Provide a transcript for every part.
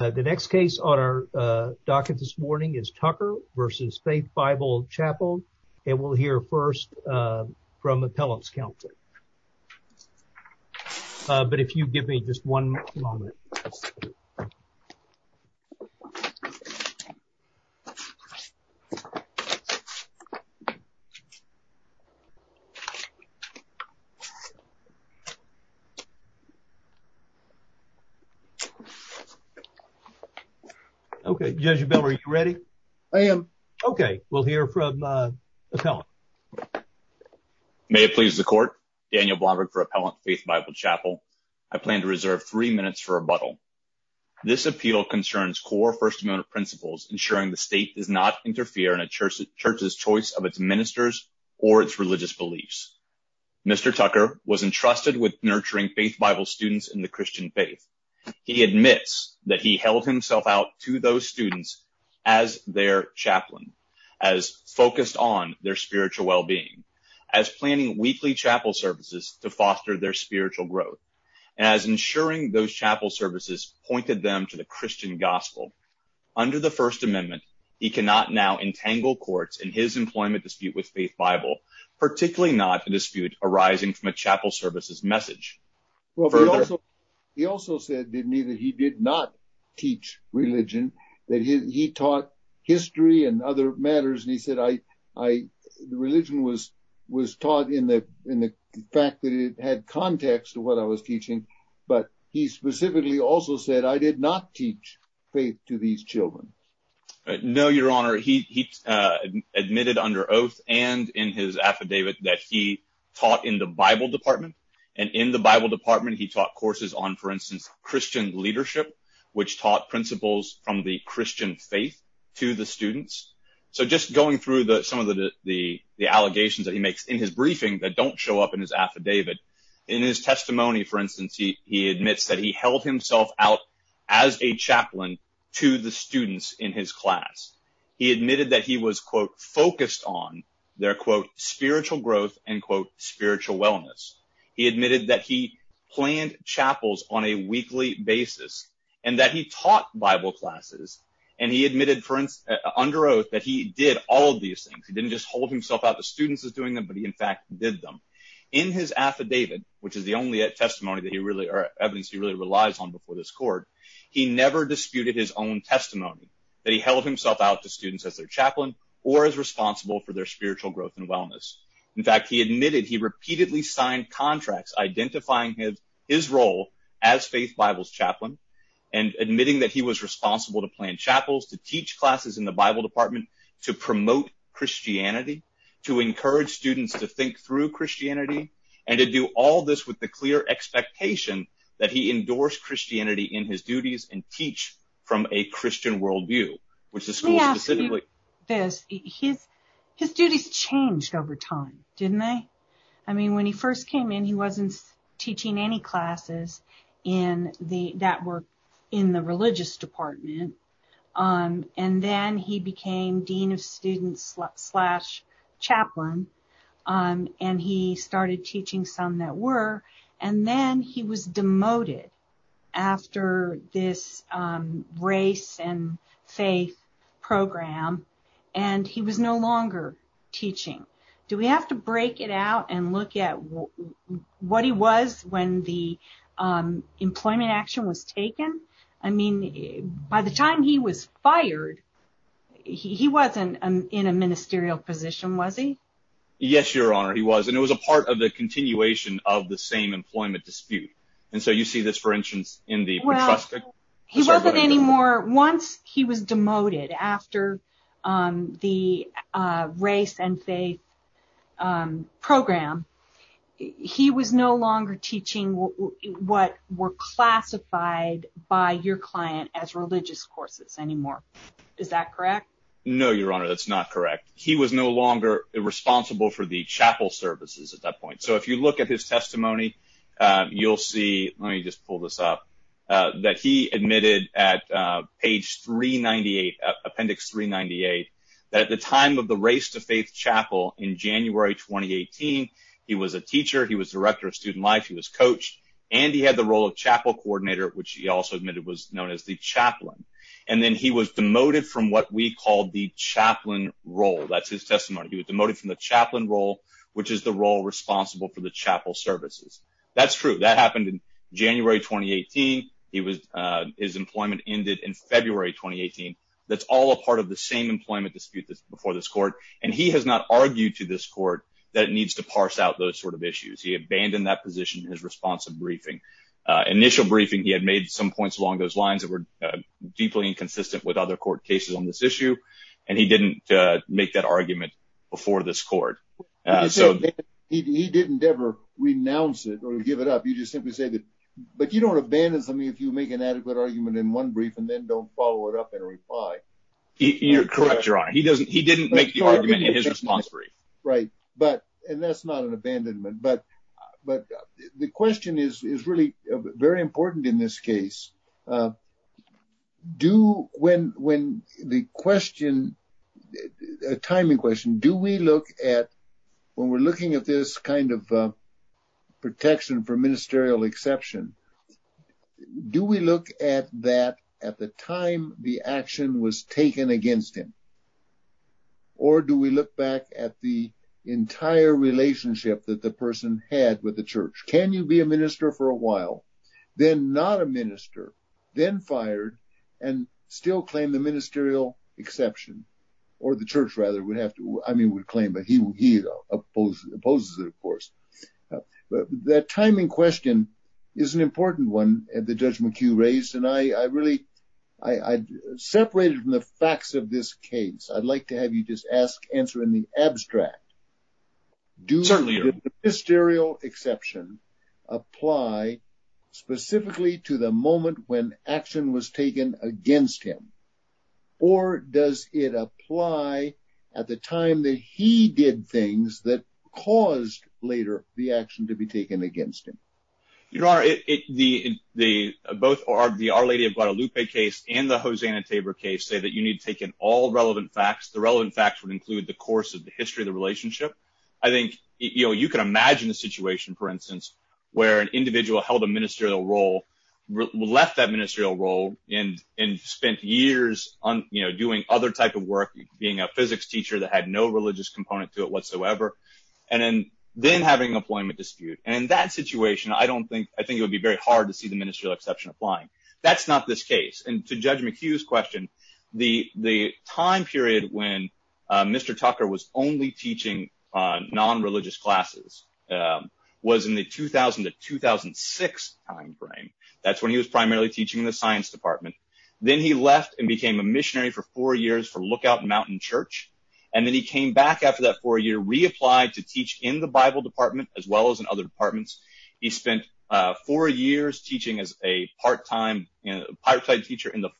The next case on our docket this morning is Tucker v. Faith Bible Chapel, and we'll hear first from Appellant's Counselor. But if you give me just one moment. Okay, Judge Bell, are you ready? I am. Okay, we'll hear from Appellant. May it please the Court, Daniel Blomberg for Appellant, Faith Bible Chapel. I plan to reserve three minutes for rebuttal. This appeal concerns core First Amendment principles, ensuring the state does not interfere in a church's choice of its ministers or its religious beliefs. Mr. Tucker was entrusted with nurturing Faith Bible students in the Christian faith. He admits that he held himself out to those students as their chaplain, as focused on their spiritual well-being, as planning weekly chapel services to foster their spiritual growth, as ensuring those chapel services pointed them to the Christian gospel. Under the First Amendment, he cannot now entangle courts in his employment dispute with Faith Bible, particularly not a dispute arising from a chapel services message. Well, he also said to me that he did not teach religion, that he taught history and other matters, and he said the religion was taught in the fact that it had context to what I was teaching, but he specifically also said I did not teach faith to these children. No, Your Honor, he admitted under oath and in his affidavit that he taught in the Bible department, and in the Bible department he taught courses on, for instance, Christian leadership, which taught principles from the Christian faith to the students. So just going through some of the allegations that he makes in his briefing that don't show up in his affidavit, in his testimony, for instance, he admits that he held himself out as a chaplain to the students in his class. He admitted that he was, quote, focused on their, quote, spiritual growth and, quote, he admitted that he planned chapels on a weekly basis and that he taught Bible classes, and he admitted, for instance, under oath that he did all of these things. He didn't just hold himself out to students as doing them, but he, in fact, did them. In his affidavit, which is the only testimony that he really, or evidence he really relies on before this court, he never disputed his own testimony that he held himself out to students as their chaplain or as responsible for their spiritual growth and wellness. In fact, he admitted he repeatedly signed contracts identifying his role as faith Bibles chaplain and admitting that he was responsible to plan chapels, to teach classes in the Bible department, to promote Christianity, to encourage students to think through Christianity, and to do all this with the clear expectation that he endorsed Christianity in his duties and teach from a Christian worldview, which the school specifically- His duties changed over time, didn't they? I mean, when he first came in, he wasn't teaching any classes that were in the religious department, and then he became dean of students slash chaplain, and he started teaching some that were, and then he was demoted after this race and faith program, and he was no longer teaching. Do we have to break it out and look at what he was when the employment action was taken? I mean, by the time he was fired, he wasn't in a ministerial position, was he? Yes, Your Honor, he was, and it was a part of the continuation of the same employment dispute, and so you see this, for instance, in the- He wasn't anymore, once he was demoted after the race and faith program, he was no longer teaching what were classified by your client as religious courses anymore. Is that correct? No, Your Honor, that's not correct. He was no longer responsible for the chapel services at that point, so if you look at his testimony, you'll see, let me just pull this up, that he admitted at page 398, appendix 398, that at the time of the race to faith chapel in January 2018, he was a teacher, he was director of student life, he was coached, and he had the role of chapel coordinator, which he also admitted was known as the chaplain, and then he was demoted from what we called the chaplain role. That's his testimony. He was demoted from the chaplain role, which is the role responsible for the chapel services. That's true, that happened in January 2018, he was, his employment ended in February 2018. That's all a part of the same employment dispute that's before this court, and he has not argued to this court that it needs to parse out those sort of issues. He abandoned that position in his responsive briefing. Initial briefing, he had made some points along those lines that were deeply inconsistent with other court cases on this He didn't ever renounce it or give it up. You just simply say that, but you don't abandon something if you make an adequate argument in one brief and then don't follow it up in a reply. You're correct, your honor. He doesn't, he didn't make the argument in his response brief. Right, but, and that's not an abandonment, but the question is really very important in this case. Do, when the question, a timing question, do we look at, when we're looking at this kind of protection for ministerial exception, do we look at that at the time the action was taken against him? Or do we look back at the entire relationship that the person had with the church? Can you be minister for a while, then not a minister, then fired, and still claim the ministerial exception? Or the church, rather, would have to, I mean, would claim, but he opposes it, of course. That timing question is an important one that Judge McHugh raised, and I really, I separated from the facts of this case. I'd like to have you just ask, answer in the abstract. Do the ministerial exception apply specifically to the moment when action was taken against him? Or does it apply at the time that he did things that caused later the action to be taken against him? Your honor, it, the, the, both are, the Our Lady of Guadalupe case and the Hosanna-Tabor case say that you need to take in all relevant facts. The relevant facts would include the course of history of the relationship. I think, you know, you can imagine a situation, for instance, where an individual held a ministerial role, left that ministerial role, and, and spent years on, you know, doing other type of work, being a physics teacher that had no religious component to it whatsoever, and then having an employment dispute. And in that situation, I don't think, I think it would be very hard to see the ministerial exception applying. That's not this on non-religious classes, was in the 2000 to 2006 time frame. That's when he was primarily teaching in the science department. Then he left and became a missionary for four years for Lookout Mountain Church. And then he came back after that four year, reapplied to teach in the Bible department, as well as in other departments. He spent four years teaching as a part-time, you know, part-time teacher in the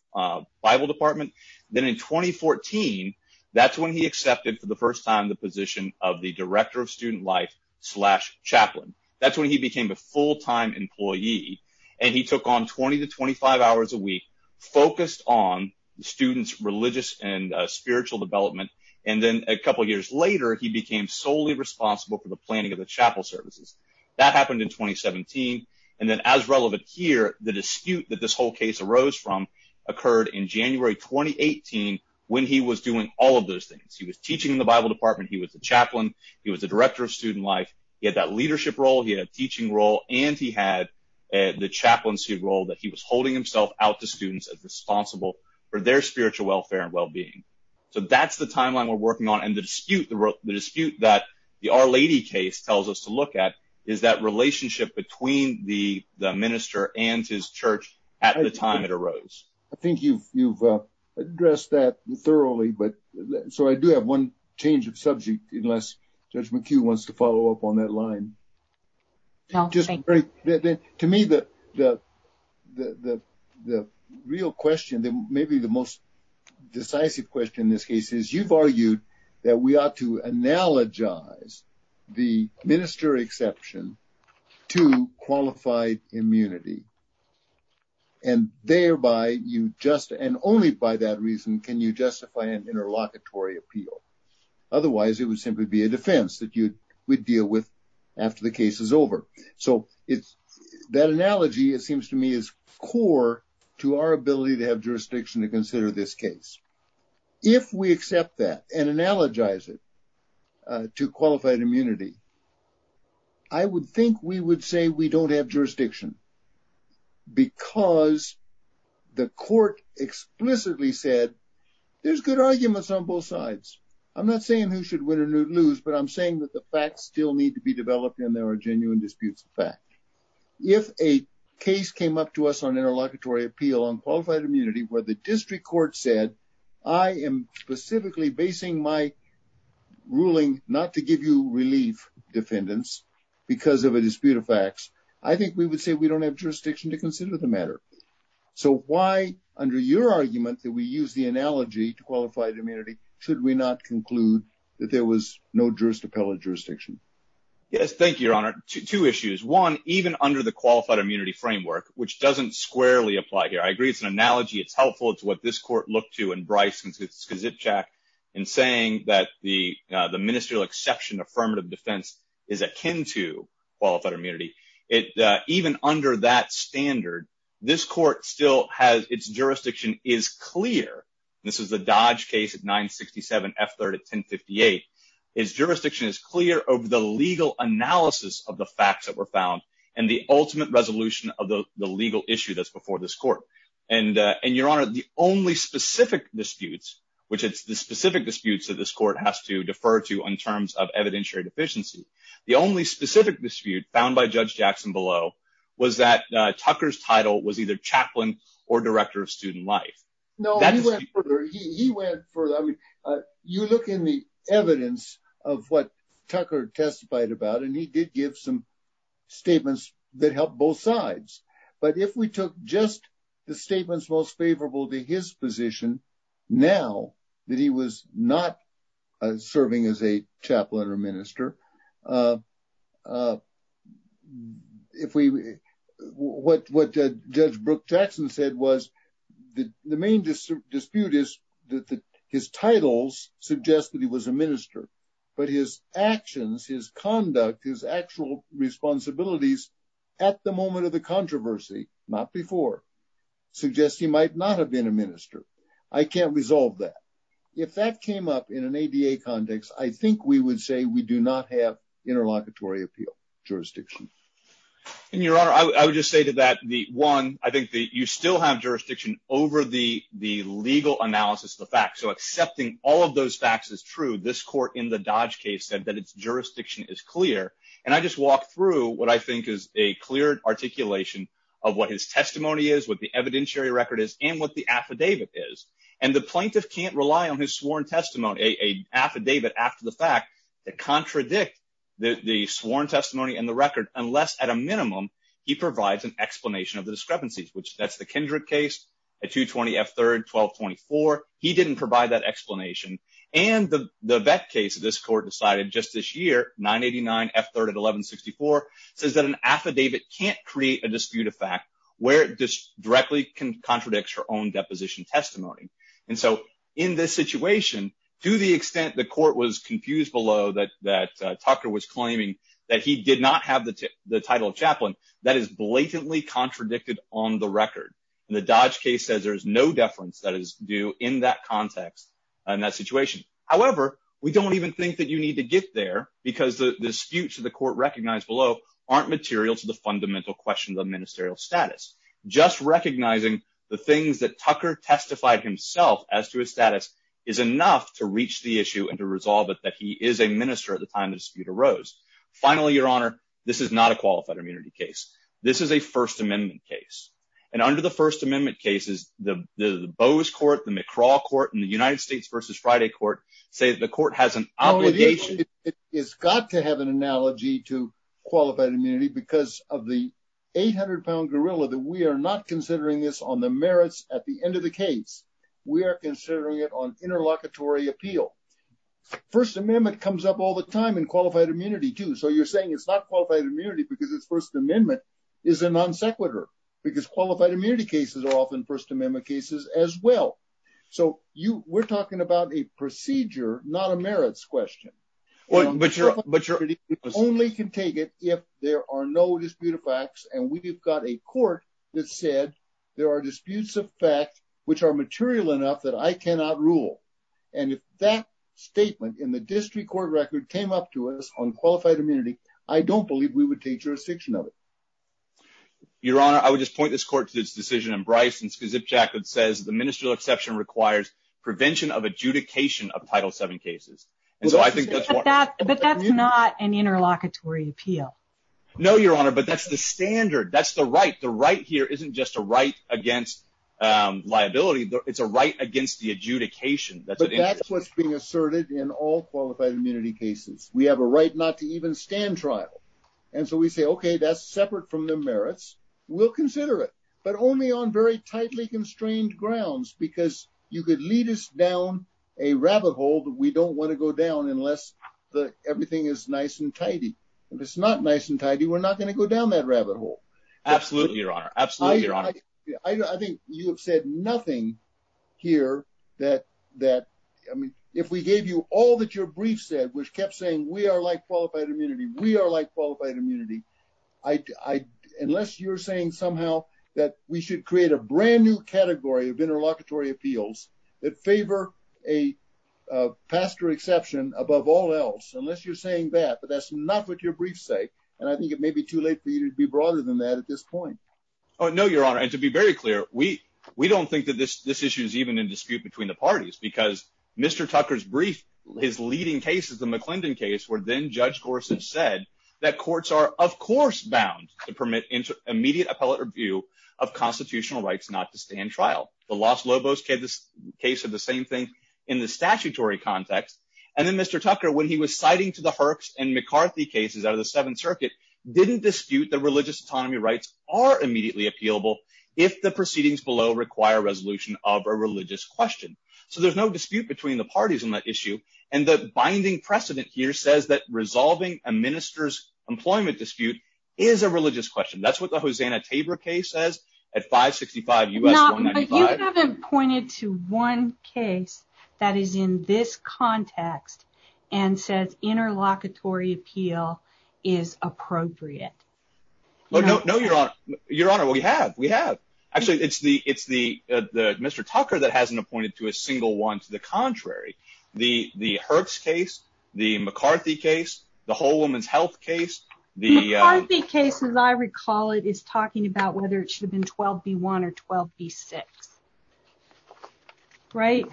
Bible department. Then in 2014, that's when he for the first time, the position of the director of student life slash chaplain. That's when he became a full-time employee. And he took on 20 to 25 hours a week, focused on students' religious and spiritual development. And then a couple of years later, he became solely responsible for the planning of the chapel services. That happened in 2017. And then as relevant here, the dispute that this whole case arose from occurred in January, 2018, when he was doing all of those things. He was teaching in the Bible department. He was a chaplain. He was a director of student life. He had that leadership role. He had a teaching role. And he had the chaplaincy role that he was holding himself out to students as responsible for their spiritual welfare and well-being. So that's the timeline we're working on. And the dispute that the Our Lady case tells us to look at is that relationship between the minister and his church at the time it arose. I think you've addressed that thoroughly. So I do have one change of subject, unless Judge McHugh wants to follow up on that line. To me, the real question, maybe the most decisive question in this case is you've argued that we ought to analogize the minister exception to qualified immunity. And thereby, you just and only by that reason can you justify an interlocutory appeal. Otherwise, it would simply be a defense that you would deal with after the case is over. So it's that analogy, it seems to me, is core to our ability to have jurisdiction to consider this case. If we accept that and analogize it to qualified immunity, I would think we would say we don't have jurisdiction because the court explicitly said there's good arguments on both sides. I'm not saying who should win or lose, but I'm saying that the facts still need to be developed and there are genuine disputes of fact. If a case came up to us on interlocutory appeal on qualified immunity where the district court said, I am specifically basing my ruling not to give you relief defendants because of a dispute of facts, I think we would say we don't have jurisdiction to consider the matter. So why under your argument that we use the analogy to qualified immunity, should we not conclude that there was no jurisdiction? Yes, thank you, Your Honor. Two issues. One, even under the qualified immunity framework, which doesn't squarely apply here, I agree it's an analogy, it's helpful, it's what this court looked to in Bryce and Skzipchak in saying that the ministerial exception affirmative defense is akin to qualified immunity. Even under that standard, this court still has, its jurisdiction is clear. This is the Dodge case at 967 F3rd at 1058. Its jurisdiction is clear over the legal analysis of the facts that were found and the ultimate resolution of the legal issue that's before this court. And Your Honor, the only specific disputes, which it's the specific disputes that this court has to defer to in terms of evidentiary deficiency, the only specific dispute found by Judge Jackson below was that Tucker's title was either chaplain or director of student life. No, he went further. You look in the evidence of what Tucker testified about, and he did give some statements that helped both sides. But if we took just the statements most favorable to his position, now that he was not serving as a chaplain or minister, what Judge Brooke Jackson said was the main dispute is that his titles suggest that he was a minister, but his actions, his conduct, his actual responsibilities at the moment of the controversy, not before, suggest he might not have been a minister. I can't resolve that. If that came up in an ADA context, I think we would say we do not have interlocutory appeal jurisdiction. And Your Honor, I would just say to that, one, I think that you still have jurisdiction over the legal analysis of the facts. So accepting all of those facts is true. This court in the Dodge case said that its jurisdiction is clear. And I just walked through what I think is a clear articulation of what his testimony is, what the evidentiary record is, and what the affidavit is. And the plaintiff can't rely on his sworn testimony, an affidavit after the fact, to contradict the sworn testimony and the record unless, at a minimum, he provides an explanation of the discrepancies, which that's the Kindred case, a 220 F-3rd, 1224. He didn't provide that explanation. And the Vette case that this court decided just this year, 989 F-3rd at 1164, says that an affidavit can't create a dispute of fact where it directly contradicts her own testimony. And so in this situation, to the extent the court was confused below that Tucker was claiming that he did not have the title of chaplain, that is blatantly contradicted on the record. And the Dodge case says there is no deference that is due in that context in that situation. However, we don't even think that you need to get there because the disputes that the court recognized below aren't material to the fundamental questions of ministerial status. Just recognizing the things that Tucker testified himself as to his status is enough to reach the issue and to resolve it that he is a minister at the time the dispute arose. Finally, Your Honor, this is not a qualified immunity case. This is a First Amendment case. And under the First Amendment cases, the Bose court, the McCraw court, and the United States v. Friday court say that the court has an obligation. It's got to have an analogy to qualified immunity because of the 800-pound gorilla that we are not considering this on the merits at the end of the case. We are considering it on interlocutory appeal. First Amendment comes up all the time in qualified immunity too. So you're saying it's not qualified immunity because it's First Amendment is a non sequitur because qualified immunity cases are often First Amendment cases as well. So we're talking about a procedure, not a merits question. Only can take it if there are no disputed facts and we've got a court that said there are disputes of fact which are material enough that I cannot rule. And if that statement in the district court record came up to us on qualified immunity, I don't believe we would take jurisdiction of it. Your Honor, I would just point this court to its decision in Bryce and Skazipchak that says the ministerial exception requires prevention of adjudication of Title VII cases. But that's not an interlocutory appeal. No, Your Honor, but that's the standard. That's the right. The right here isn't just a right against liability, it's a right against the adjudication. But that's what's being asserted in all qualified immunity cases. We have a right not to even stand trial. And so we say, okay, that's separate from the merits. We'll consider it, but only on very tightly constrained grounds because you could lead us down a rabbit hole that we don't want to go down unless everything is nice and tidy. If it's not nice and tidy, we're not going to go down that rabbit hole. Absolutely, Your Honor. Absolutely, Your Honor. I think you have said nothing here that, I mean, if we gave you all that your brief said, which kept saying we are like qualified immunity, we are like qualified immunity. Unless you're saying somehow that we should create a brand new category of interlocutory appeals that favor a pastor exception above all else, unless you're saying that, but that's not what your brief say. And I think it may be too late for you to be broader than that at this point. Oh, no, Your Honor. And to be very clear, we don't think that this issue is even in dispute between the parties because Mr. Tucker's brief, his leading case is the McClendon case, where then Judge Gorsuch said that courts are, of course, bound to permit immediate appellate review of constitutional rights not to stand trial. The Los Lobos case is the same thing in the statutory context. And then Mr. Tucker, when he was citing to the Herx and McCarthy cases out of the Seventh Circuit, didn't dispute that religious autonomy rights are immediately appealable if the proceedings below require resolution of a religious question. So there's no dispute between the parties on that issue. And the binding precedent here says that resolving a minister's employment dispute is a religious question. That's what the Hosanna Tabor case says at 565 U.S. 195. No, but you haven't pointed to one case that is in this context and says interlocutory appeal is appropriate. No, Your Honor. Your Honor, we have. We have. Actually, it's the Mr. Tucker that hasn't appointed to a single one. To the contrary, the Herx case, the McCarthy case, the Whole Woman's Health case. The McCarthy case, as I recall it, is talking about whether it should have been 12B1 or 12B6. Right.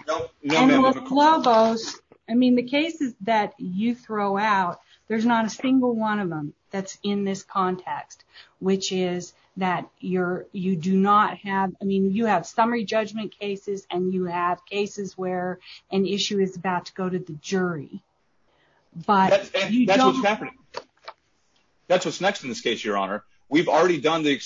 And with Lobos, I mean, the cases that you throw out, there's not a single one of them that's in this context, which is that you do not have. I mean, you have summary judgment cases and you have cases where an issue is about to go to the jury. That's what's happening. That's what's next in this case, Your Honor. We've already done the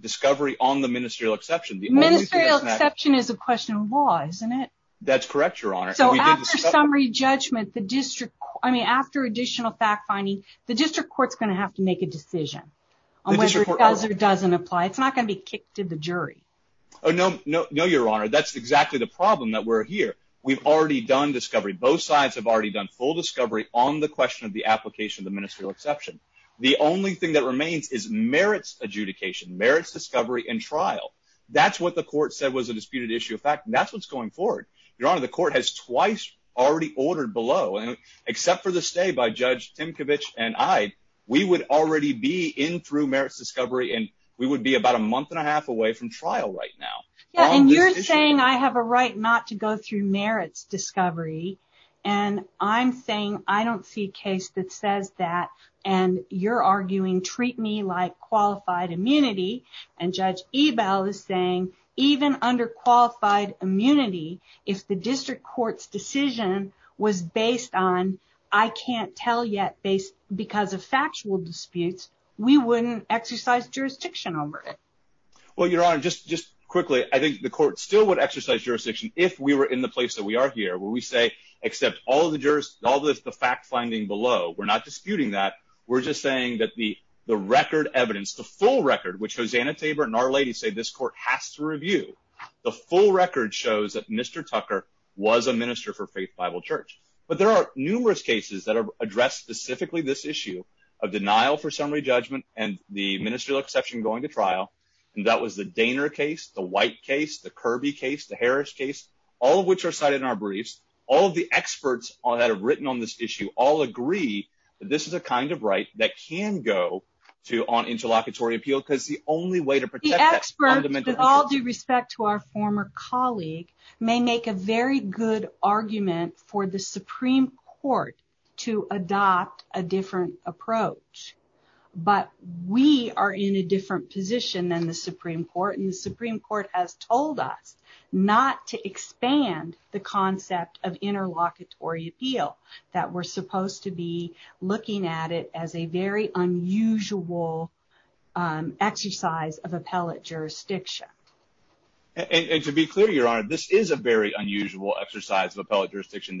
discovery on the ministerial exception. Ministerial exception is a question of law, isn't it? That's correct, Your Honor. So after summary judgment, the district, I mean, after additional fact finding, the district court's going to have to make a decision on whether it does or doesn't apply. It's not going to be kicked to the jury. Oh, no, no, no, Your Honor. That's exactly the problem that we're here. We've already done discovery. Both sides have already done full discovery on the question of the application of the ministerial exception. The only thing that remains is merits adjudication, merits discovery and trial. That's what the court said was a disputed issue of fact, and that's what's going forward. Your Honor, the court has twice already ordered below, and except for the stay by Judge Timkovich and I, we would already be in through merits discovery and we would be about a month and a half away from trial right now. Yeah, and you're saying I have a right not to go through merits discovery, and I'm saying I don't see a case that says that, and you're arguing treat me like qualified immunity, and Judge Ebel is saying even under qualified immunity, if the district court's decision was based on I can't tell yet based factual disputes, we wouldn't exercise jurisdiction over it. Well, Your Honor, just quickly, I think the court still would exercise jurisdiction if we were in the place that we are here, where we say, except all the fact finding below, we're not disputing that. We're just saying that the record evidence, the full record, which Hosanna Tabor and Our Lady say this court has to review, the full record shows that Mr. Tucker was a minister for Faith Bible Church, but there are of denial for summary judgment and the ministerial exception going to trial, and that was the Daner case, the White case, the Kirby case, the Harris case, all of which are cited in our briefs. All of the experts that have written on this issue all agree that this is a kind of right that can go to on interlocutory appeal, because the only way to protect that... The experts, with all due respect to our former colleague, may make a very good argument for the Supreme Court to adopt a different approach, but we are in a different position than the Supreme Court, and the Supreme Court has told us not to expand the concept of interlocutory appeal, that we're supposed to be looking at it as a very unusual exercise of appellate jurisdiction. And to be clear, Your Honor, this is a very unusual exercise of appellate jurisdiction.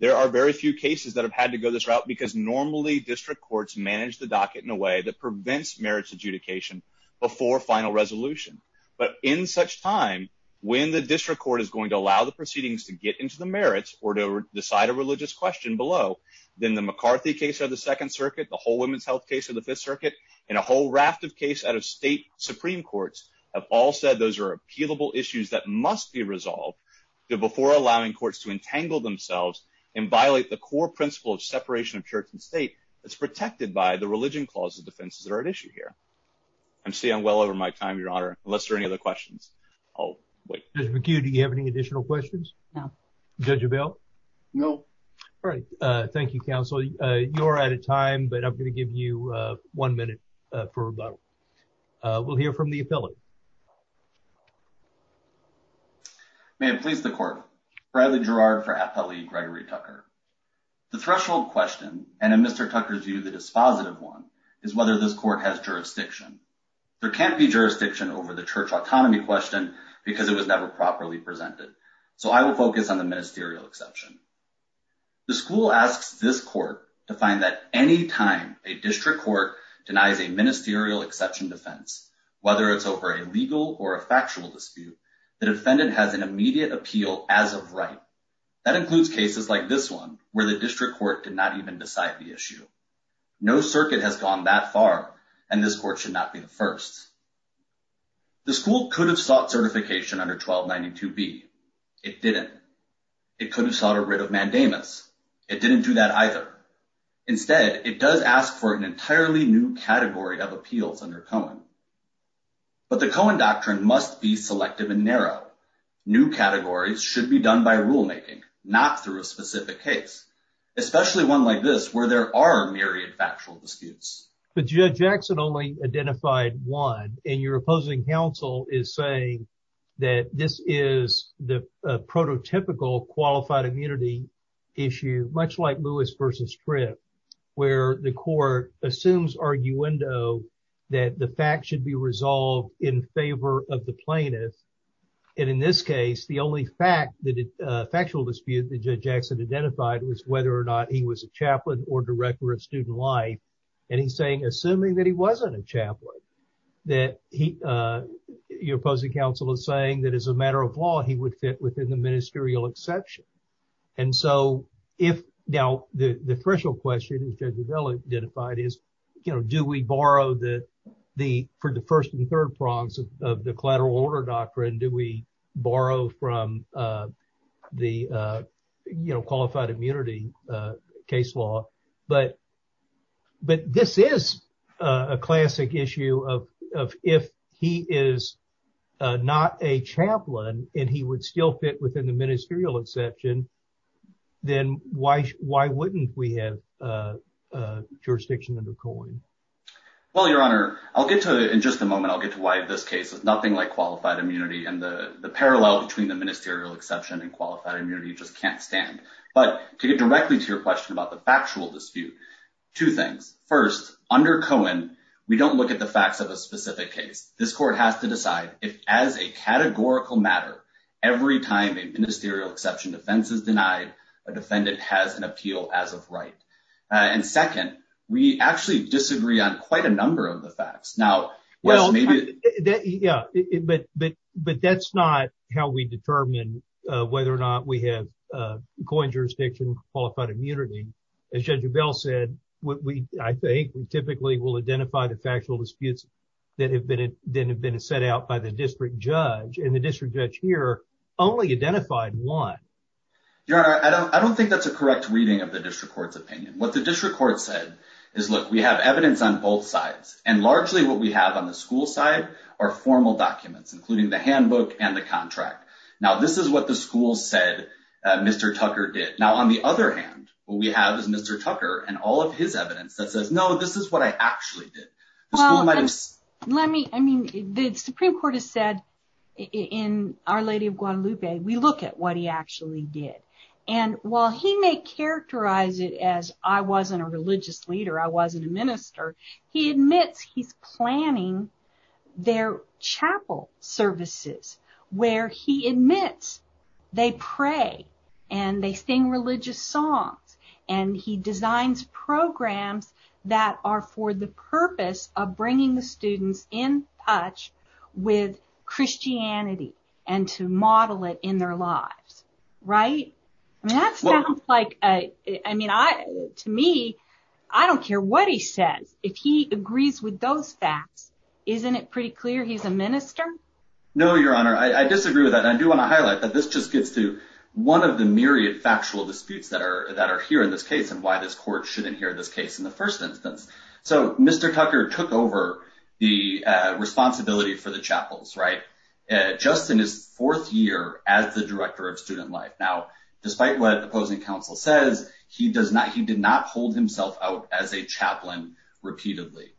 There are very few cases that have normally district courts manage the docket in a way that prevents merits adjudication before final resolution, but in such time, when the district court is going to allow the proceedings to get into the merits or to decide a religious question below, then the McCarthy case of the Second Circuit, the whole women's health case of the Fifth Circuit, and a whole raft of case out of state Supreme Courts have all said those are appealable issues that must be resolved before allowing courts to entangle themselves and violate the core principle of separation of church and state that's protected by the religion clause of defenses that are at issue here. I'm staying well over my time, Your Honor, unless there are any other questions. I'll wait. Judge McHugh, do you have any additional questions? No. Judge Abell? No. All right. Thank you, counsel. You're out of time, but I'm going to give you one minute for rebuttal. We'll hear from the appellate. May it please the court. Bradley Gerard for Appellee Gregory Tucker. The threshold question, and in Mr. Tucker's view, the dispositive one, is whether this court has jurisdiction. There can't be jurisdiction over the church autonomy question because it was never properly presented. So I will focus on the ministerial exception. The school asks this court to find that any time a district court denies a ministerial exception defense, whether it's over a religious question or a legal or a factual dispute, the defendant has an immediate appeal as of right. That includes cases like this one where the district court did not even decide the issue. No circuit has gone that far, and this court should not be the first. The school could have sought certification under 1292B. It didn't. It could have sought a writ of mandamus. It didn't do that either. Instead, it does ask for an entirely new category of appeals under Cohen. But the Cohen doctrine must be selective and narrow. New categories should be done by rulemaking, not through a specific case, especially one like this where there are myriad factual disputes. But Judge Jackson only identified one, and your opposing counsel is saying that this is the prototypical qualified immunity issue, much like Lewis versus Fripp, where the court assumes arguendo that the fact should be resolved in favor of the plaintiff. And in this case, the only factual dispute that Judge Jackson identified was whether or not he was a chaplain or director of student life. And he's saying, assuming that he wasn't a chaplain, that he, your opposing counsel is that as a matter of law, he would fit within the ministerial exception. And so if, now, the official question, as Judge Avella identified, is, you know, do we borrow for the first and third prongs of the collateral order doctrine? Do we borrow from the qualified immunity case law? But this is a classic issue of if he is not a chaplain and he would still fit within the ministerial exception, then why wouldn't we have jurisdiction under Cohen? Well, Your Honor, I'll get to, in just a moment, I'll get to why this case is nothing like qualified immunity. And the parallel between the ministerial exception and qualified immunity just can't stand. But to get directly to your question about the factual dispute, two things. First, under Cohen, we don't look at the facts of a specific case. This court has to decide if, as a categorical matter, every time a ministerial exception defense is denied, a defendant has an appeal as of right. And second, we actually disagree on quite a number of the facts. Well, yeah, but that's not how we determine whether or not we have Cohen jurisdiction, qualified immunity. As Judge Avella said, I think we typically will identify the factual disputes that have been set out by the district judge. And the district judge here only identified one. Your Honor, I don't think that's a correct reading of the district court's opinion. What the district court said is, look, we have evidence on both sides. And largely, what we have on the school side are formal documents, including the handbook and the contract. Now, this is what the school said Mr. Tucker did. Now, on the other hand, what we have is Mr. Tucker and all of his evidence that says, no, this is what I actually did. The school might have- Well, let me, I mean, the Supreme Court has said in Our Lady of Guadalupe, we look at what he actually did. And while he may characterize it as, I wasn't a religious leader, I wasn't a minister, he admits he's planning their chapel services, where he admits they pray and they sing religious songs. And he designs programs that are for the purpose of bringing the students in touch with Christianity and to model it in their lives. Right? I mean, that sounds like, I mean, to me, I don't care what he says. If he agrees with those facts, isn't it pretty clear he's a minister? No, Your Honor. I disagree with that. I do want to highlight that this just gets to one of the myriad factual disputes that are here in this case and why this court shouldn't hear this case in the first instance. So Mr. Tucker took over the responsibility for the chapels, right? Just in his fourth year as the director of student life. Now, despite what the opposing says, he did not hold himself out as a chaplain repeatedly.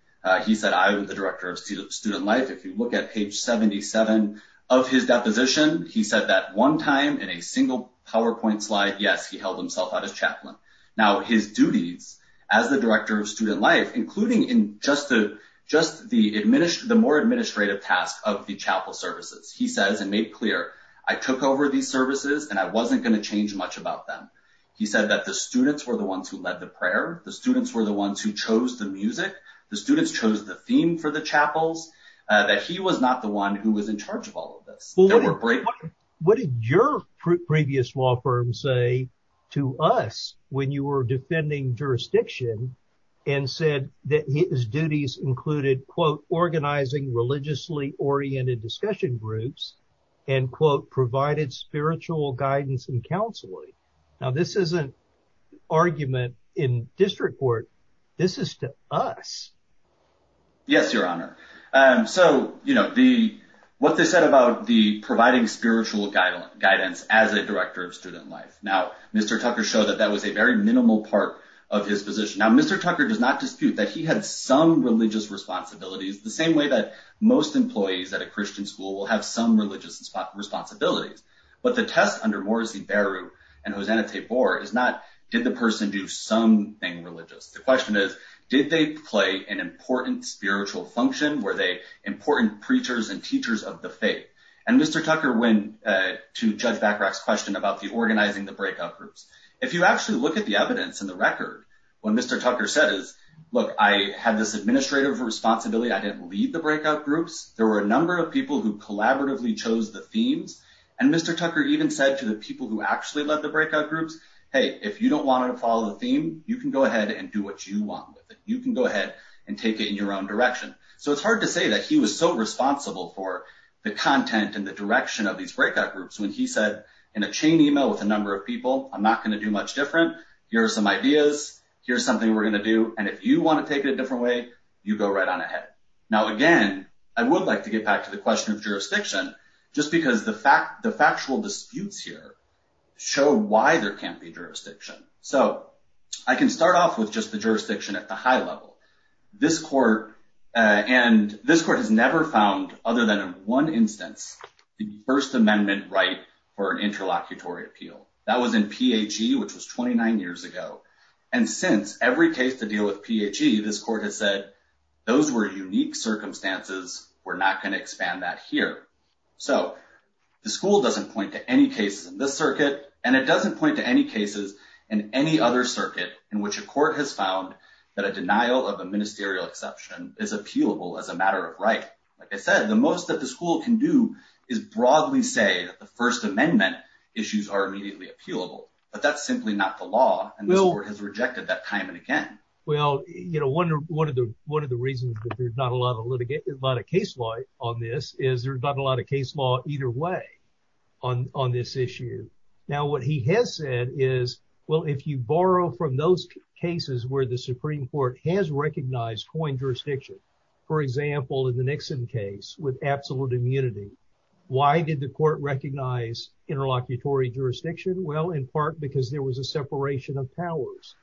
He said, I was the director of student life. If you look at page 77 of his deposition, he said that one time in a single PowerPoint slide, yes, he held himself out as chaplain. Now his duties as the director of student life, including in just the more administrative task of the chapel services, he says, and made clear, I took over these services and I wasn't going to change much about them. He said that the students were the ones who led the prayer. The students were the ones who chose the music. The students chose the theme for the chapels, that he was not the one who was in charge of all of this. What did your previous law firm say to us when you were defending jurisdiction and said that his duties included, quote, organizing religiously oriented discussion groups and quote, provided spiritual guidance and counseling. Now this isn't argument in district court. This is to us. Yes, your honor. So, you know, the, what they said about the providing spiritual guidance as a director of student life. Now, Mr. Tucker showed that that was a very minimal part of his position. Now, Mr. Tucker does not dispute that he had some employees at a Christian school will have some religious responsibilities, but the test under Morrissey Baru and Hosanna Tabor is not, did the person do something religious? The question is, did they play an important spiritual function? Were they important preachers and teachers of the faith? And Mr. Tucker, when to judge Bacarach's question about the organizing, the breakout groups, if you actually look at the evidence and the record, what Mr. Tucker said is, look, I had this groups. There were a number of people who collaboratively chose the themes. And Mr. Tucker even said to the people who actually led the breakout groups, Hey, if you don't want to follow the theme, you can go ahead and do what you want with it. You can go ahead and take it in your own direction. So it's hard to say that he was so responsible for the content and the direction of these breakout groups. When he said in a chain email with a number of people, I'm not going to do much different. Here's some ideas. Here's something we're going to do. And if you want to take it a different way, you go right on ahead. Now, again, I would like to get back to the question of jurisdiction just because the factual disputes here show why there can't be jurisdiction. So I can start off with just the jurisdiction at the high level. This court has never found, other than in one instance, the first amendment right for an interlocutory appeal. That was in case to deal with PHE. This court has said, those were unique circumstances. We're not going to expand that here. So the school doesn't point to any cases in this circuit, and it doesn't point to any cases in any other circuit in which a court has found that a denial of a ministerial exception is appealable as a matter of right. Like I said, the most that the school can do is broadly say that the first amendment issues are immediately appealable, but that's simply not the law. And this court has rejected that time and again. Well, one of the reasons that there's not a lot of case law on this is there's not a lot of case law either way on this issue. Now, what he has said is, well, if you borrow from those cases where the Supreme Court has recognized coin jurisdiction, for example, in the Nixon case with absolute immunity, why did the court recognize interlocutory jurisdiction? Well, in part, because there was a separation of powers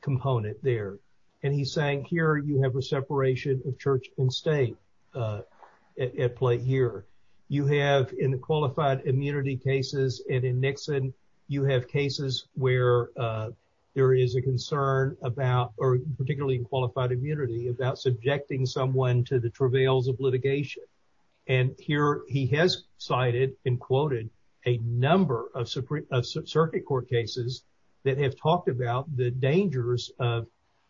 component there. And he's saying here, you have a separation of church and state at play here. You have in qualified immunity cases, and in Nixon, you have cases where there is a concern about, or particularly in qualified immunity, about subjecting someone to the Supreme Court. He has cited and quoted a number of circuit court cases that have talked about the dangers of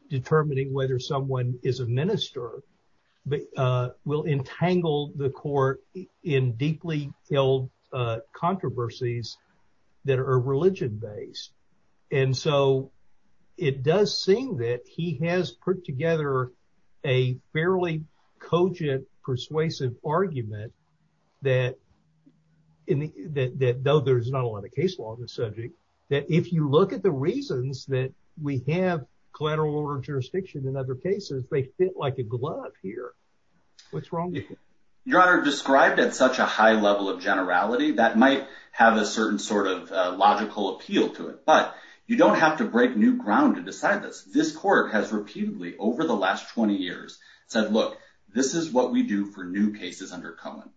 determining whether someone is a minister will entangle the court in deeply held controversies that are religion based. And so it does seem that he has put together a fairly cogent, persuasive argument that though there's not a lot of case law on this subject, that if you look at the reasons that we have collateral order jurisdiction in other cases, they fit like a glove here. What's wrong with it? Your Honor, described at such a high level of generality, that might have a certain sort of logical appeal to it, but you don't have to said, look, this is what we do for new cases under Cohen.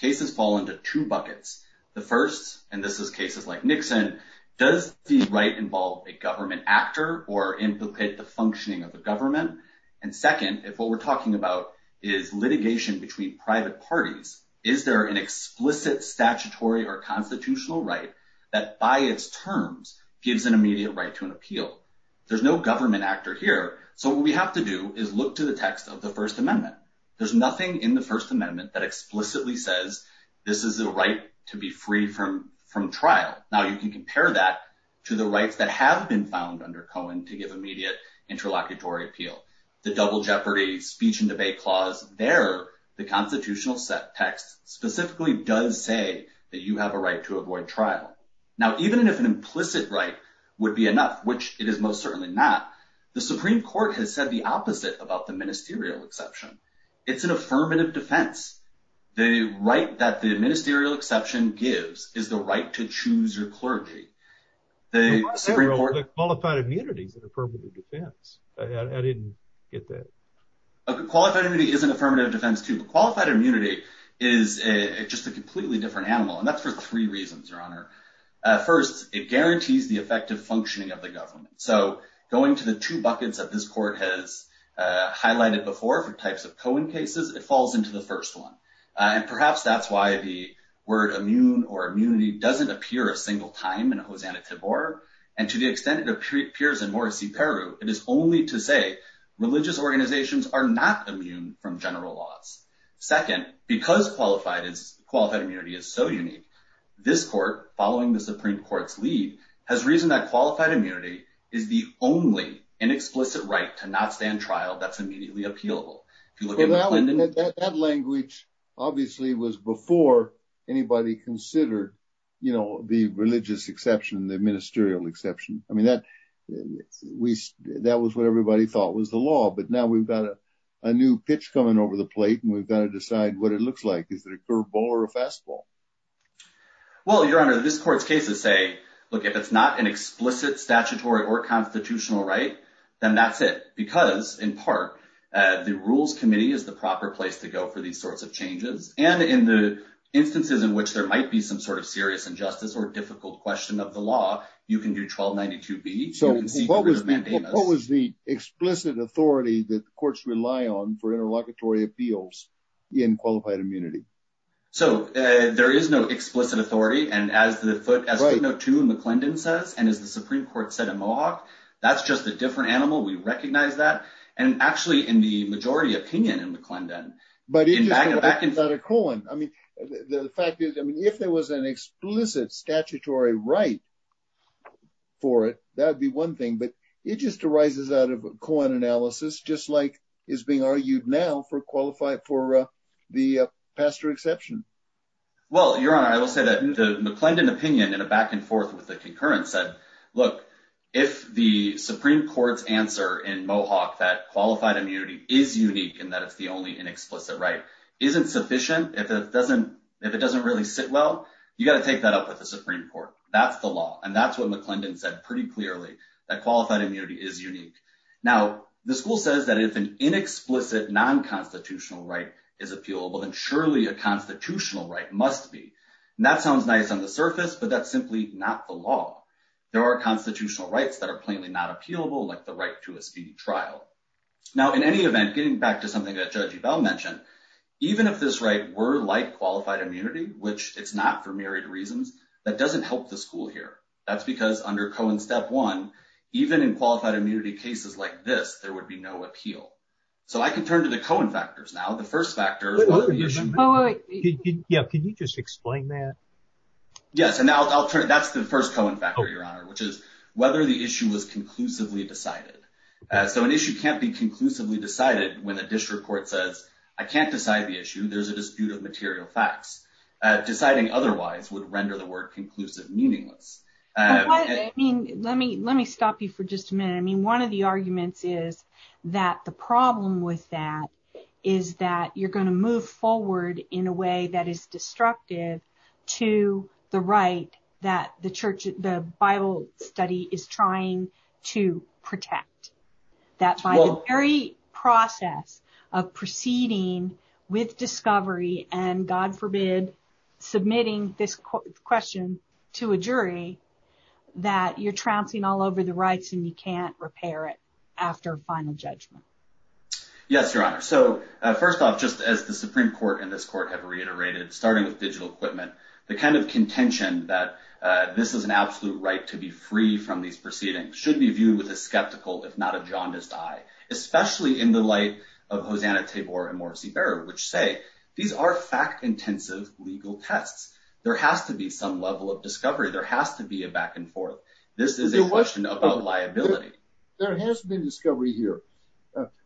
Cases fall into two buckets. The first, and this is cases like Nixon, does the right involve a government actor or implicate the functioning of the government? And second, if what we're talking about is litigation between private parties, is there an explicit statutory or constitutional right that by its terms gives an immediate right to an appeal? There's no government actor here. So what we have to do is look to the text of the first amendment. There's nothing in the first amendment that explicitly says this is the right to be free from trial. Now you can compare that to the rights that have been found under Cohen to give immediate interlocutory appeal. The double jeopardy speech and debate clause there, the constitutional set text specifically does say that you have a right to avoid trial. Now, even if an implicit right would be enough, which it is certainly not, the Supreme Court has said the opposite about the ministerial exception. It's an affirmative defense. The right that the ministerial exception gives is the right to choose your clergy. The qualified immunity is an affirmative defense. I didn't get that. Qualified immunity is an affirmative defense too, but qualified immunity is just a completely different animal. And that's for three reasons, your honor. First, it guarantees the effective functioning of the government. So going to the two buckets that this court has highlighted before for types of Cohen cases, it falls into the first one. And perhaps that's why the word immune or immunity doesn't appear a single time in a Hosanna Tibor. And to the extent it appears in Morrissey Peru, it is only to say religious organizations are not immune from general laws. Second, because qualified immunity is so unique, this court, following the Supreme Court's lead, has reason that qualified immunity is the only inexplicit right to not stand trial that's immediately appealable. That language obviously was before anybody considered the religious exception, the ministerial exception. I mean, that was what everybody thought was the law, but now we've got a new pitch coming over the plate and we've got to decide what it looks like. Is it a curveball or a fastball? Well, your honor, this court's cases say, look, if it's not an explicit statutory or constitutional right, then that's it. Because in part, the rules committee is the proper place to go for these sorts of changes. And in the instances in which there might be some sort of serious injustice or difficult question of the law, you can do 1292B. So what was the explicit authority that the courts rely on for interlocutory appeals in qualified immunity? So there is no explicit authority. And as the footnote 2 in McClendon says, and as the Supreme Court said in Mohawk, that's just a different animal. We recognize that. And actually in the majority opinion in McClendon. But it just arises out of Cohen. I mean, the fact is, I mean, if there was an explicit statutory right for it, that'd be one thing. But it just arises out of Cohen analysis, just like is being argued now for qualified for the pastor exception. Well, your honor, I will say that the McClendon opinion in a back and forth with the concurrence said, look, if the Supreme Court's answer in Mohawk that qualified immunity is unique and that it's the only inexplicit right isn't sufficient, if it doesn't really sit well, you got to take that up with the Supreme Court. That's the law. And that's what qualified immunity is unique. Now, the school says that if an inexplicit non-constitutional right is appealable, then surely a constitutional right must be. And that sounds nice on the surface, but that's simply not the law. There are constitutional rights that are plainly not appealable, like the right to a speedy trial. Now, in any event, getting back to something that Judge Ebell mentioned, even if this right were like qualified immunity, which it's not for reasons, that doesn't help the school here. That's because under Cohen step one, even in qualified immunity cases like this, there would be no appeal. So I can turn to the Cohen factors. Now, the first factor. Yeah. Can you just explain that? Yes. And that's the first Cohen factor, your honor, which is whether the issue was conclusively decided. So an issue can't be conclusively decided when the district court says I can't decide the issue. There's a dispute of the word conclusive meaningless. Let me stop you for just a minute. I mean, one of the arguments is that the problem with that is that you're going to move forward in a way that is destructive to the right that the Bible study is trying to protect. That by the very process of proceeding with discovery and God forbid submitting this question to a jury, that you're trouncing all over the rights and you can't repair it after final judgment. Yes, your honor. So first off, just as the Supreme Court and this court have reiterated, starting with digital equipment, the kind of contention that this is an absolute right to be free from these proceedings should be viewed with a skeptical, if not a jaundiced eye, especially in the light of Hosanna, Tabor, and Morsi Berra, which say these are fact intensive legal tests. There has to be some level of discovery. There has to be a back and forth. This is a question about liability. There has been discovery here.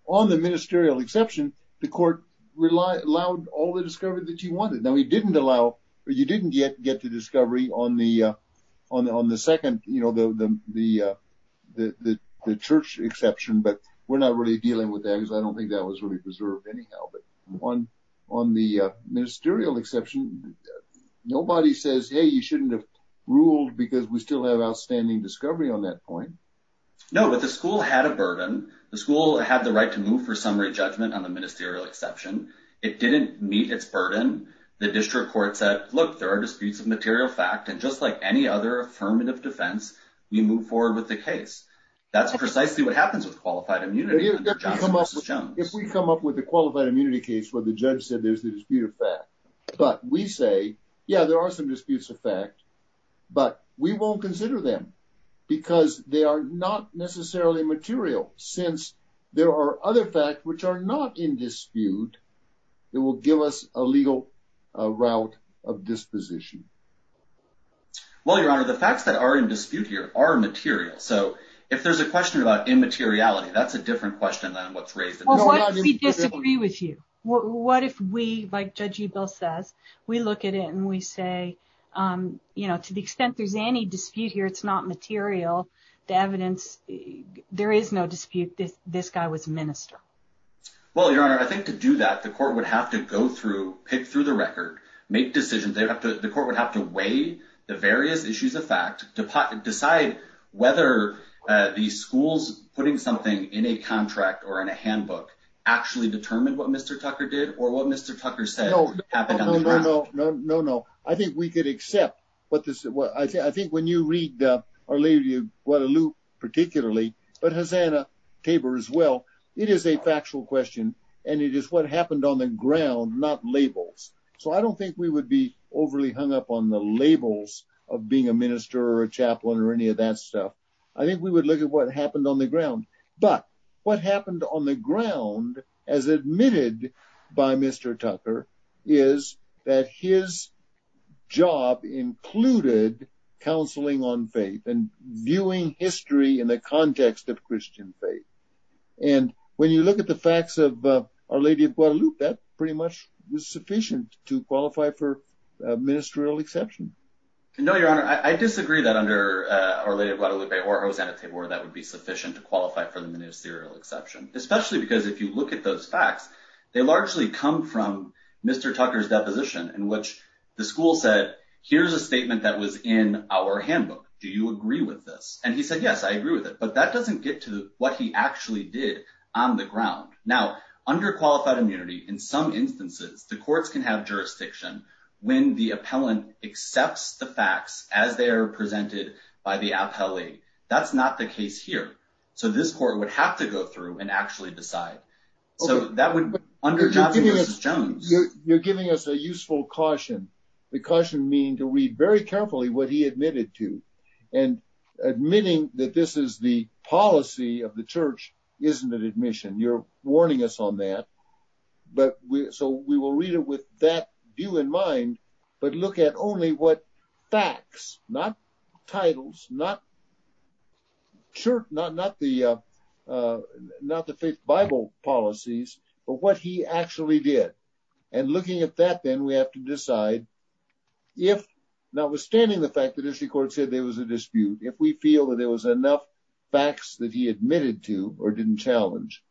On the ministerial exception, the court allowed all the discovery that you wanted. Now, you didn't yet get to discovery on the church exception, but we're not really dealing with that because I don't think that was really preserved anyhow. But on the ministerial exception, nobody says, hey, you shouldn't have ruled because we still have outstanding discovery on that point. No, but the school had a burden. The school had the right to move for summary judgment on the ministerial exception. It didn't meet its burden. The district court said, look, there are disputes of material fact, and just like any other affirmative defense, we move forward with the case. That's precisely what happens with qualified immunity. If we come up with a qualified immunity case where the judge said there's the dispute of fact, but we say, yeah, there are some disputes of fact, but we won't consider them because they are not in dispute, it will give us a legal route of disposition. Well, Your Honor, the facts that are in dispute here are material. So, if there's a question about immateriality, that's a different question than what's raised. Well, what if we disagree with you? What if we, like Judge Ebell says, we look at it and we say, to the extent there's any dispute here, it's not material. The evidence, there is no dispute. This guy was a minister. Well, Your Honor, I think to do that, the court would have to go through, pick through the record, make decisions. The court would have to weigh the various issues of fact to decide whether the schools putting something in a contract or in a handbook actually determined what Mr. Tucker did or what Mr. Tucker said. No, no, no. I think we could accept what this is. I think when you read or leave you, particularly, but Hosanna Tabor as well, it is a factual question and it is what happened on the ground, not labels. So, I don't think we would be overly hung up on the labels of being a minister or a chaplain or any of that stuff. I think we would look at what happened on the ground. But what happened on the ground as admitted by Mr. Tucker is that his job included counseling on faith and viewing history in the context of Christian faith. And when you look at the facts of Our Lady of Guadalupe, that pretty much was sufficient to qualify for ministerial exception. No, Your Honor. I disagree that under Our Lady of Guadalupe or Hosanna Tabor that would be sufficient to qualify for the ministerial exception, especially because if you look at those facts, they largely come from Mr. Tucker's handbook. Do you agree with this? And he said, yes, I agree with it. But that doesn't get to what he actually did on the ground. Now, under qualified immunity, in some instances, the courts can have jurisdiction when the appellant accepts the facts as they are presented by the appellee. That's not the case here. So, this court would have to go through and actually decide. So, that would, under Johnson v. Jones- You're giving us a useful caution. The caution means to read very carefully what he admitted to. And admitting that this is the policy of the church isn't an admission. You're warning us on that. So, we will read it with that view in mind, but look at only what facts, not titles, not the faith Bible policies, but what he actually did. And looking at that then, we have to decide if, notwithstanding the fact that this court said there was a dispute, if we feel that there was enough facts that he admitted to or didn't challenge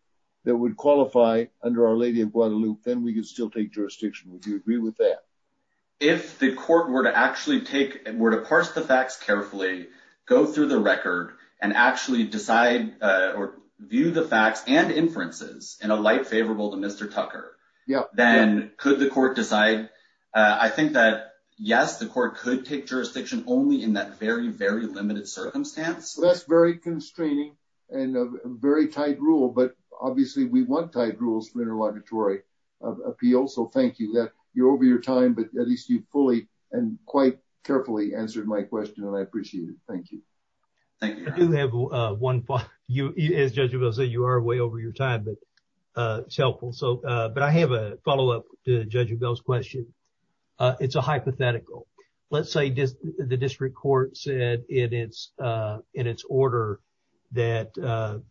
that would qualify under Our Lady of Guadalupe, then we could still take jurisdiction. Would you agree with that? If the court were to actually take, were to parse the facts carefully, go through the record, and actually decide or view the facts and favorable to Mr. Tucker, then could the court decide? I think that, yes, the court could take jurisdiction only in that very, very limited circumstance. That's very constraining and a very tight rule, but obviously we want tight rules for interlocutory appeals. So, thank you. You're over your time, but at least you fully and quite carefully answered my question and I appreciate it. Thank you. Thank you. I do have one thought. As Judge Abell said, you are way over your time, but it's helpful. So, but I have a follow-up to Judge Abell's question. It's a hypothetical. Let's say the district court said in its order that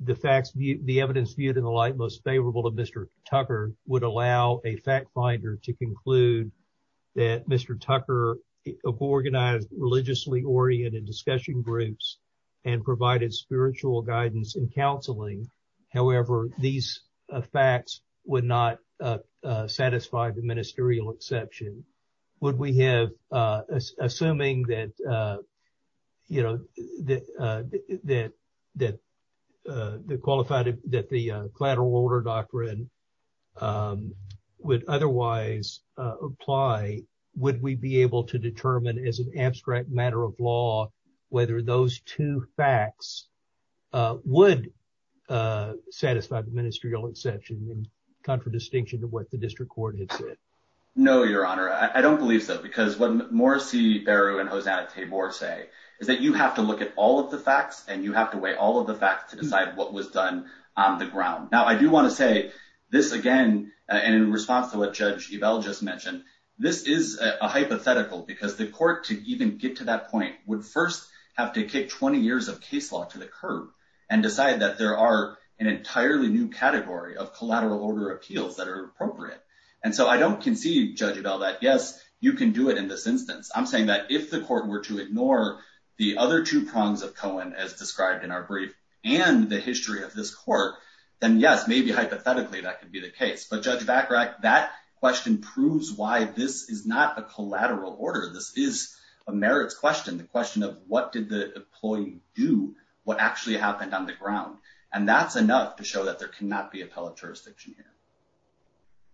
the facts, the evidence viewed in the light most favorable to Mr. Tucker would allow a fact finder to conclude that Mr. Tucker organized religiously oriented discussion groups and provided spiritual guidance and counseling. However, these facts would not satisfy the ministerial exception. Would we have, assuming that you know, that the qualified, that the collateral order doctrine would otherwise apply, would we be able to determine as an abstract matter of law whether those two facts would satisfy the ministerial exception in contradistinction to what the district court had said? No, your honor. I don't believe so because what Morris C. Barrow and Hosanna Taybor say is that you have to look at all of the facts and you have to weigh all of the facts to decide what was done on the ground. Now, I do want to say this again, and in response to what Judge Abell just mentioned, this is a hypothetical because the court to even get to that point would first have to kick 20 years of case law to the curb and decide that there are an entirely new category of collateral order appeals that are appropriate. And so I don't conceive, Judge Abell, that yes, you can do it in this instance. I'm saying that if the court were to ignore the other two prongs of Cohen, as described in our brief, and the history of this court, then yes, maybe hypothetically that could be the case. But Judge Vacarac, that question proves why this is not a collateral order. This is a merits question, the question of what did the employee do, what actually happened on the ground. And that's enough to show that there cannot be appellate jurisdiction here.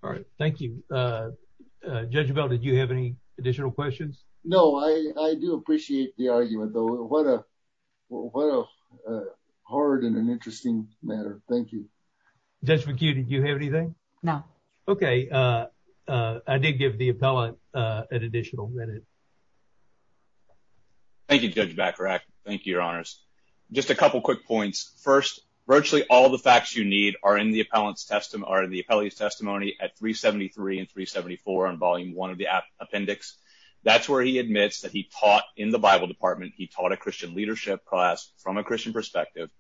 All right. Thank you. Judge Abell, did you have any additional questions? No, I do appreciate the argument, though. What a hard and an interesting matter. Thank you. Judge Vacu, did you have anything? No. Okay. I did give the appellant an additional minute. Thank you, Judge Vacarac. Thank you, Your Honors. Just a couple quick points. First, virtually all the facts you need are in the appellate's testimony at 373 and 374 on Volume 1 of the appendix. That's where he admits that he taught in the Bible department, he taught a Christian leadership class from a Christian perspective,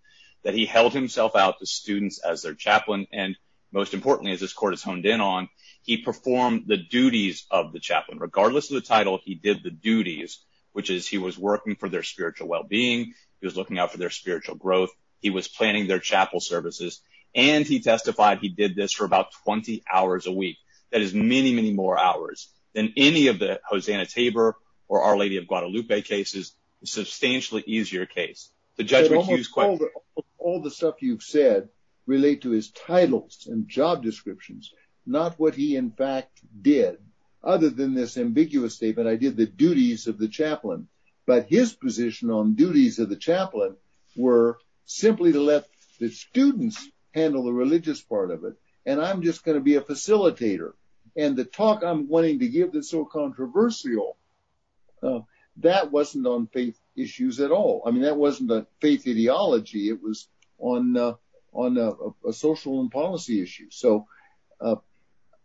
that he held himself out to students as their chaplain, and most importantly, as this court has honed in on, he performed the duties of the chaplain. Regardless of the title, he did the duties, which is he was working for their spiritual well-being, he was looking out for their spiritual growth, he was planning their chapel services, and he testified he did this for about 20 hours a week. That is many, many more hours than any of the Hosanna Tabor or Our Lady of Guadalupe cases, a substantially easier case. All the stuff you've said relate to his titles and job descriptions, not what he, in fact, did. Other than this ambiguous statement, I did the duties of the chaplain, but his position on duties of the chaplain were simply to let the students handle the religious part of it, and I'm just going to be a facilitator, and the talk I'm wanting to give that's so controversial, that wasn't on faith issues at all. I mean, that wasn't a faith ideology, it was on a social and policy issue, so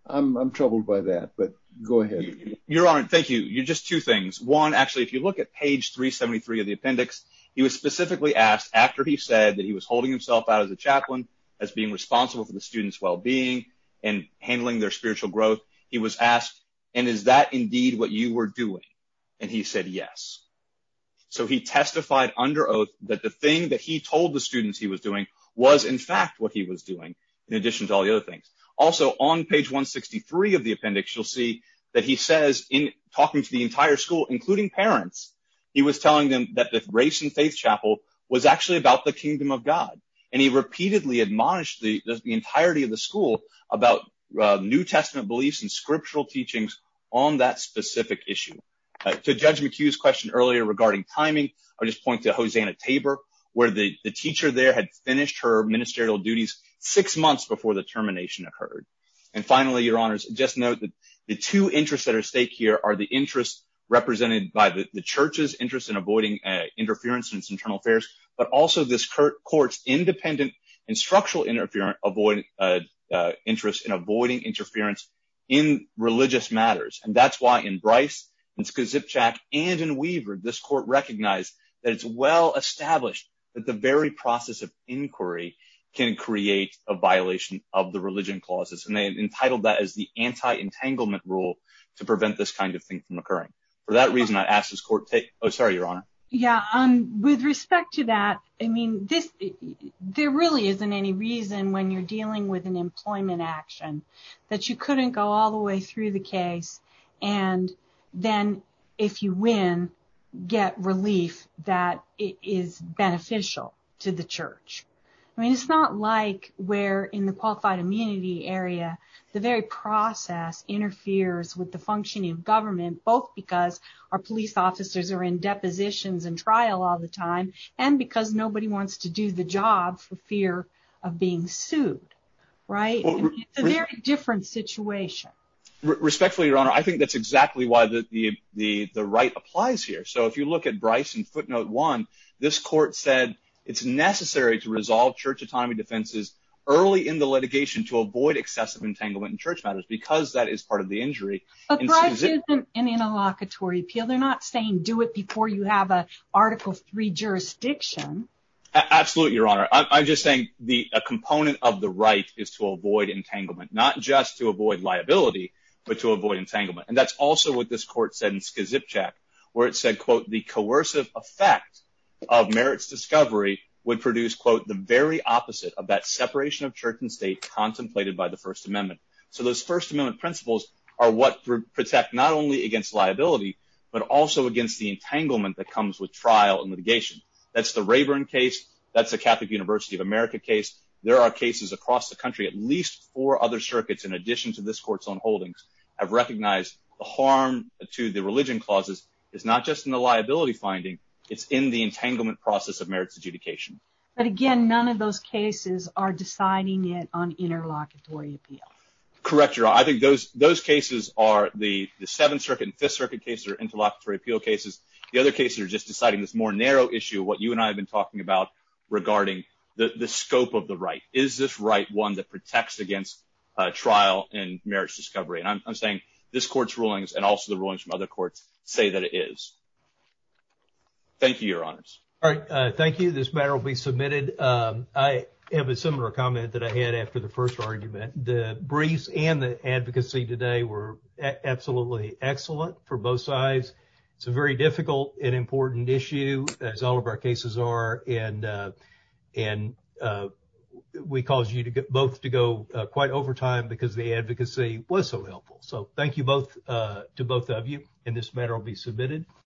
I'm troubled by that, but go ahead. Your Honor, thank you. Just two things. One, actually, if you look at page 373 of the appendix, he was specifically asked after he said that he was holding himself out as a chaplain, as being responsible for the students' well-being, and handling their spiritual growth, he was asked, and is that indeed what you were doing? And he said, yes. So he testified under oath that the thing that he told the students he was doing was, in fact, what he was doing, in addition to all the other things. Also, on page 163 of the appendix, you'll see that he says, in talking to the entire school, including parents, he was And he repeatedly admonished the entirety of the school about New Testament beliefs and scriptural teachings on that specific issue. To Judge McHugh's question earlier regarding timing, I'll just point to Hosanna Tabor, where the teacher there had finished her ministerial duties six months before the termination occurred. And finally, Your Honors, just note that the two interests at stake here are the interests represented by the church's interest in avoiding interference in its internal affairs, but also this court's independent and structural interest in avoiding interference in religious matters. And that's why in Bryce, in Skazipchak, and in Weaver, this court recognized that it's well-established that the very process of inquiry can create a violation of the religion clauses. And they entitled that as the anti-entanglement rule to prevent this kind of thing from occurring. For that reason, oh, sorry, Your Honor. Yeah, with respect to that, I mean, there really isn't any reason when you're dealing with an employment action that you couldn't go all the way through the case, and then if you win, get relief that is beneficial to the church. I mean, it's not like where in the qualified immunity area, the very process interferes with the functioning of our police officers are in depositions and trial all the time, and because nobody wants to do the job for fear of being sued, right? It's a very different situation. Respectfully, Your Honor, I think that's exactly why the right applies here. So if you look at Bryce in footnote one, this court said it's necessary to resolve church autonomy defenses early in the litigation to avoid excessive entanglement in church matters, because that is part of the injury. But Bryce isn't in a locatory appeal. They're not saying do it before you have an article three jurisdiction. Absolutely, Your Honor. I'm just saying a component of the right is to avoid entanglement, not just to avoid liability, but to avoid entanglement. And that's also what this court said in Skazipchak, where it said, quote, the coercive effect of merits discovery would produce, quote, the very opposite of that separation of church and state contemplated by the First Amendment principles are what protect not only against liability, but also against the entanglement that comes with trial and litigation. That's the Rayburn case. That's a Catholic University of America case. There are cases across the country. At least four other circuits, in addition to this court's own holdings, have recognized the harm to the religion clauses is not just in the liability finding. It's in the entanglement process of merits adjudication. But again, those cases are the Seventh Circuit and Fifth Circuit cases are interlocutory appeal cases. The other cases are just deciding this more narrow issue, what you and I have been talking about regarding the scope of the right. Is this right one that protects against trial and merits discovery? And I'm saying this court's rulings and also the rulings from other courts say that it is. Thank you, Your Honors. All right. Thank you. This matter will be submitted. I have a similar comment that I had after the first argument. The briefs and the advocacy today were absolutely excellent for both sides. It's a very difficult and important issue, as all of our cases are. And we caused you both to go quite over time because the advocacy was so helpful. So thank you to both of you. And this matter will be submitted.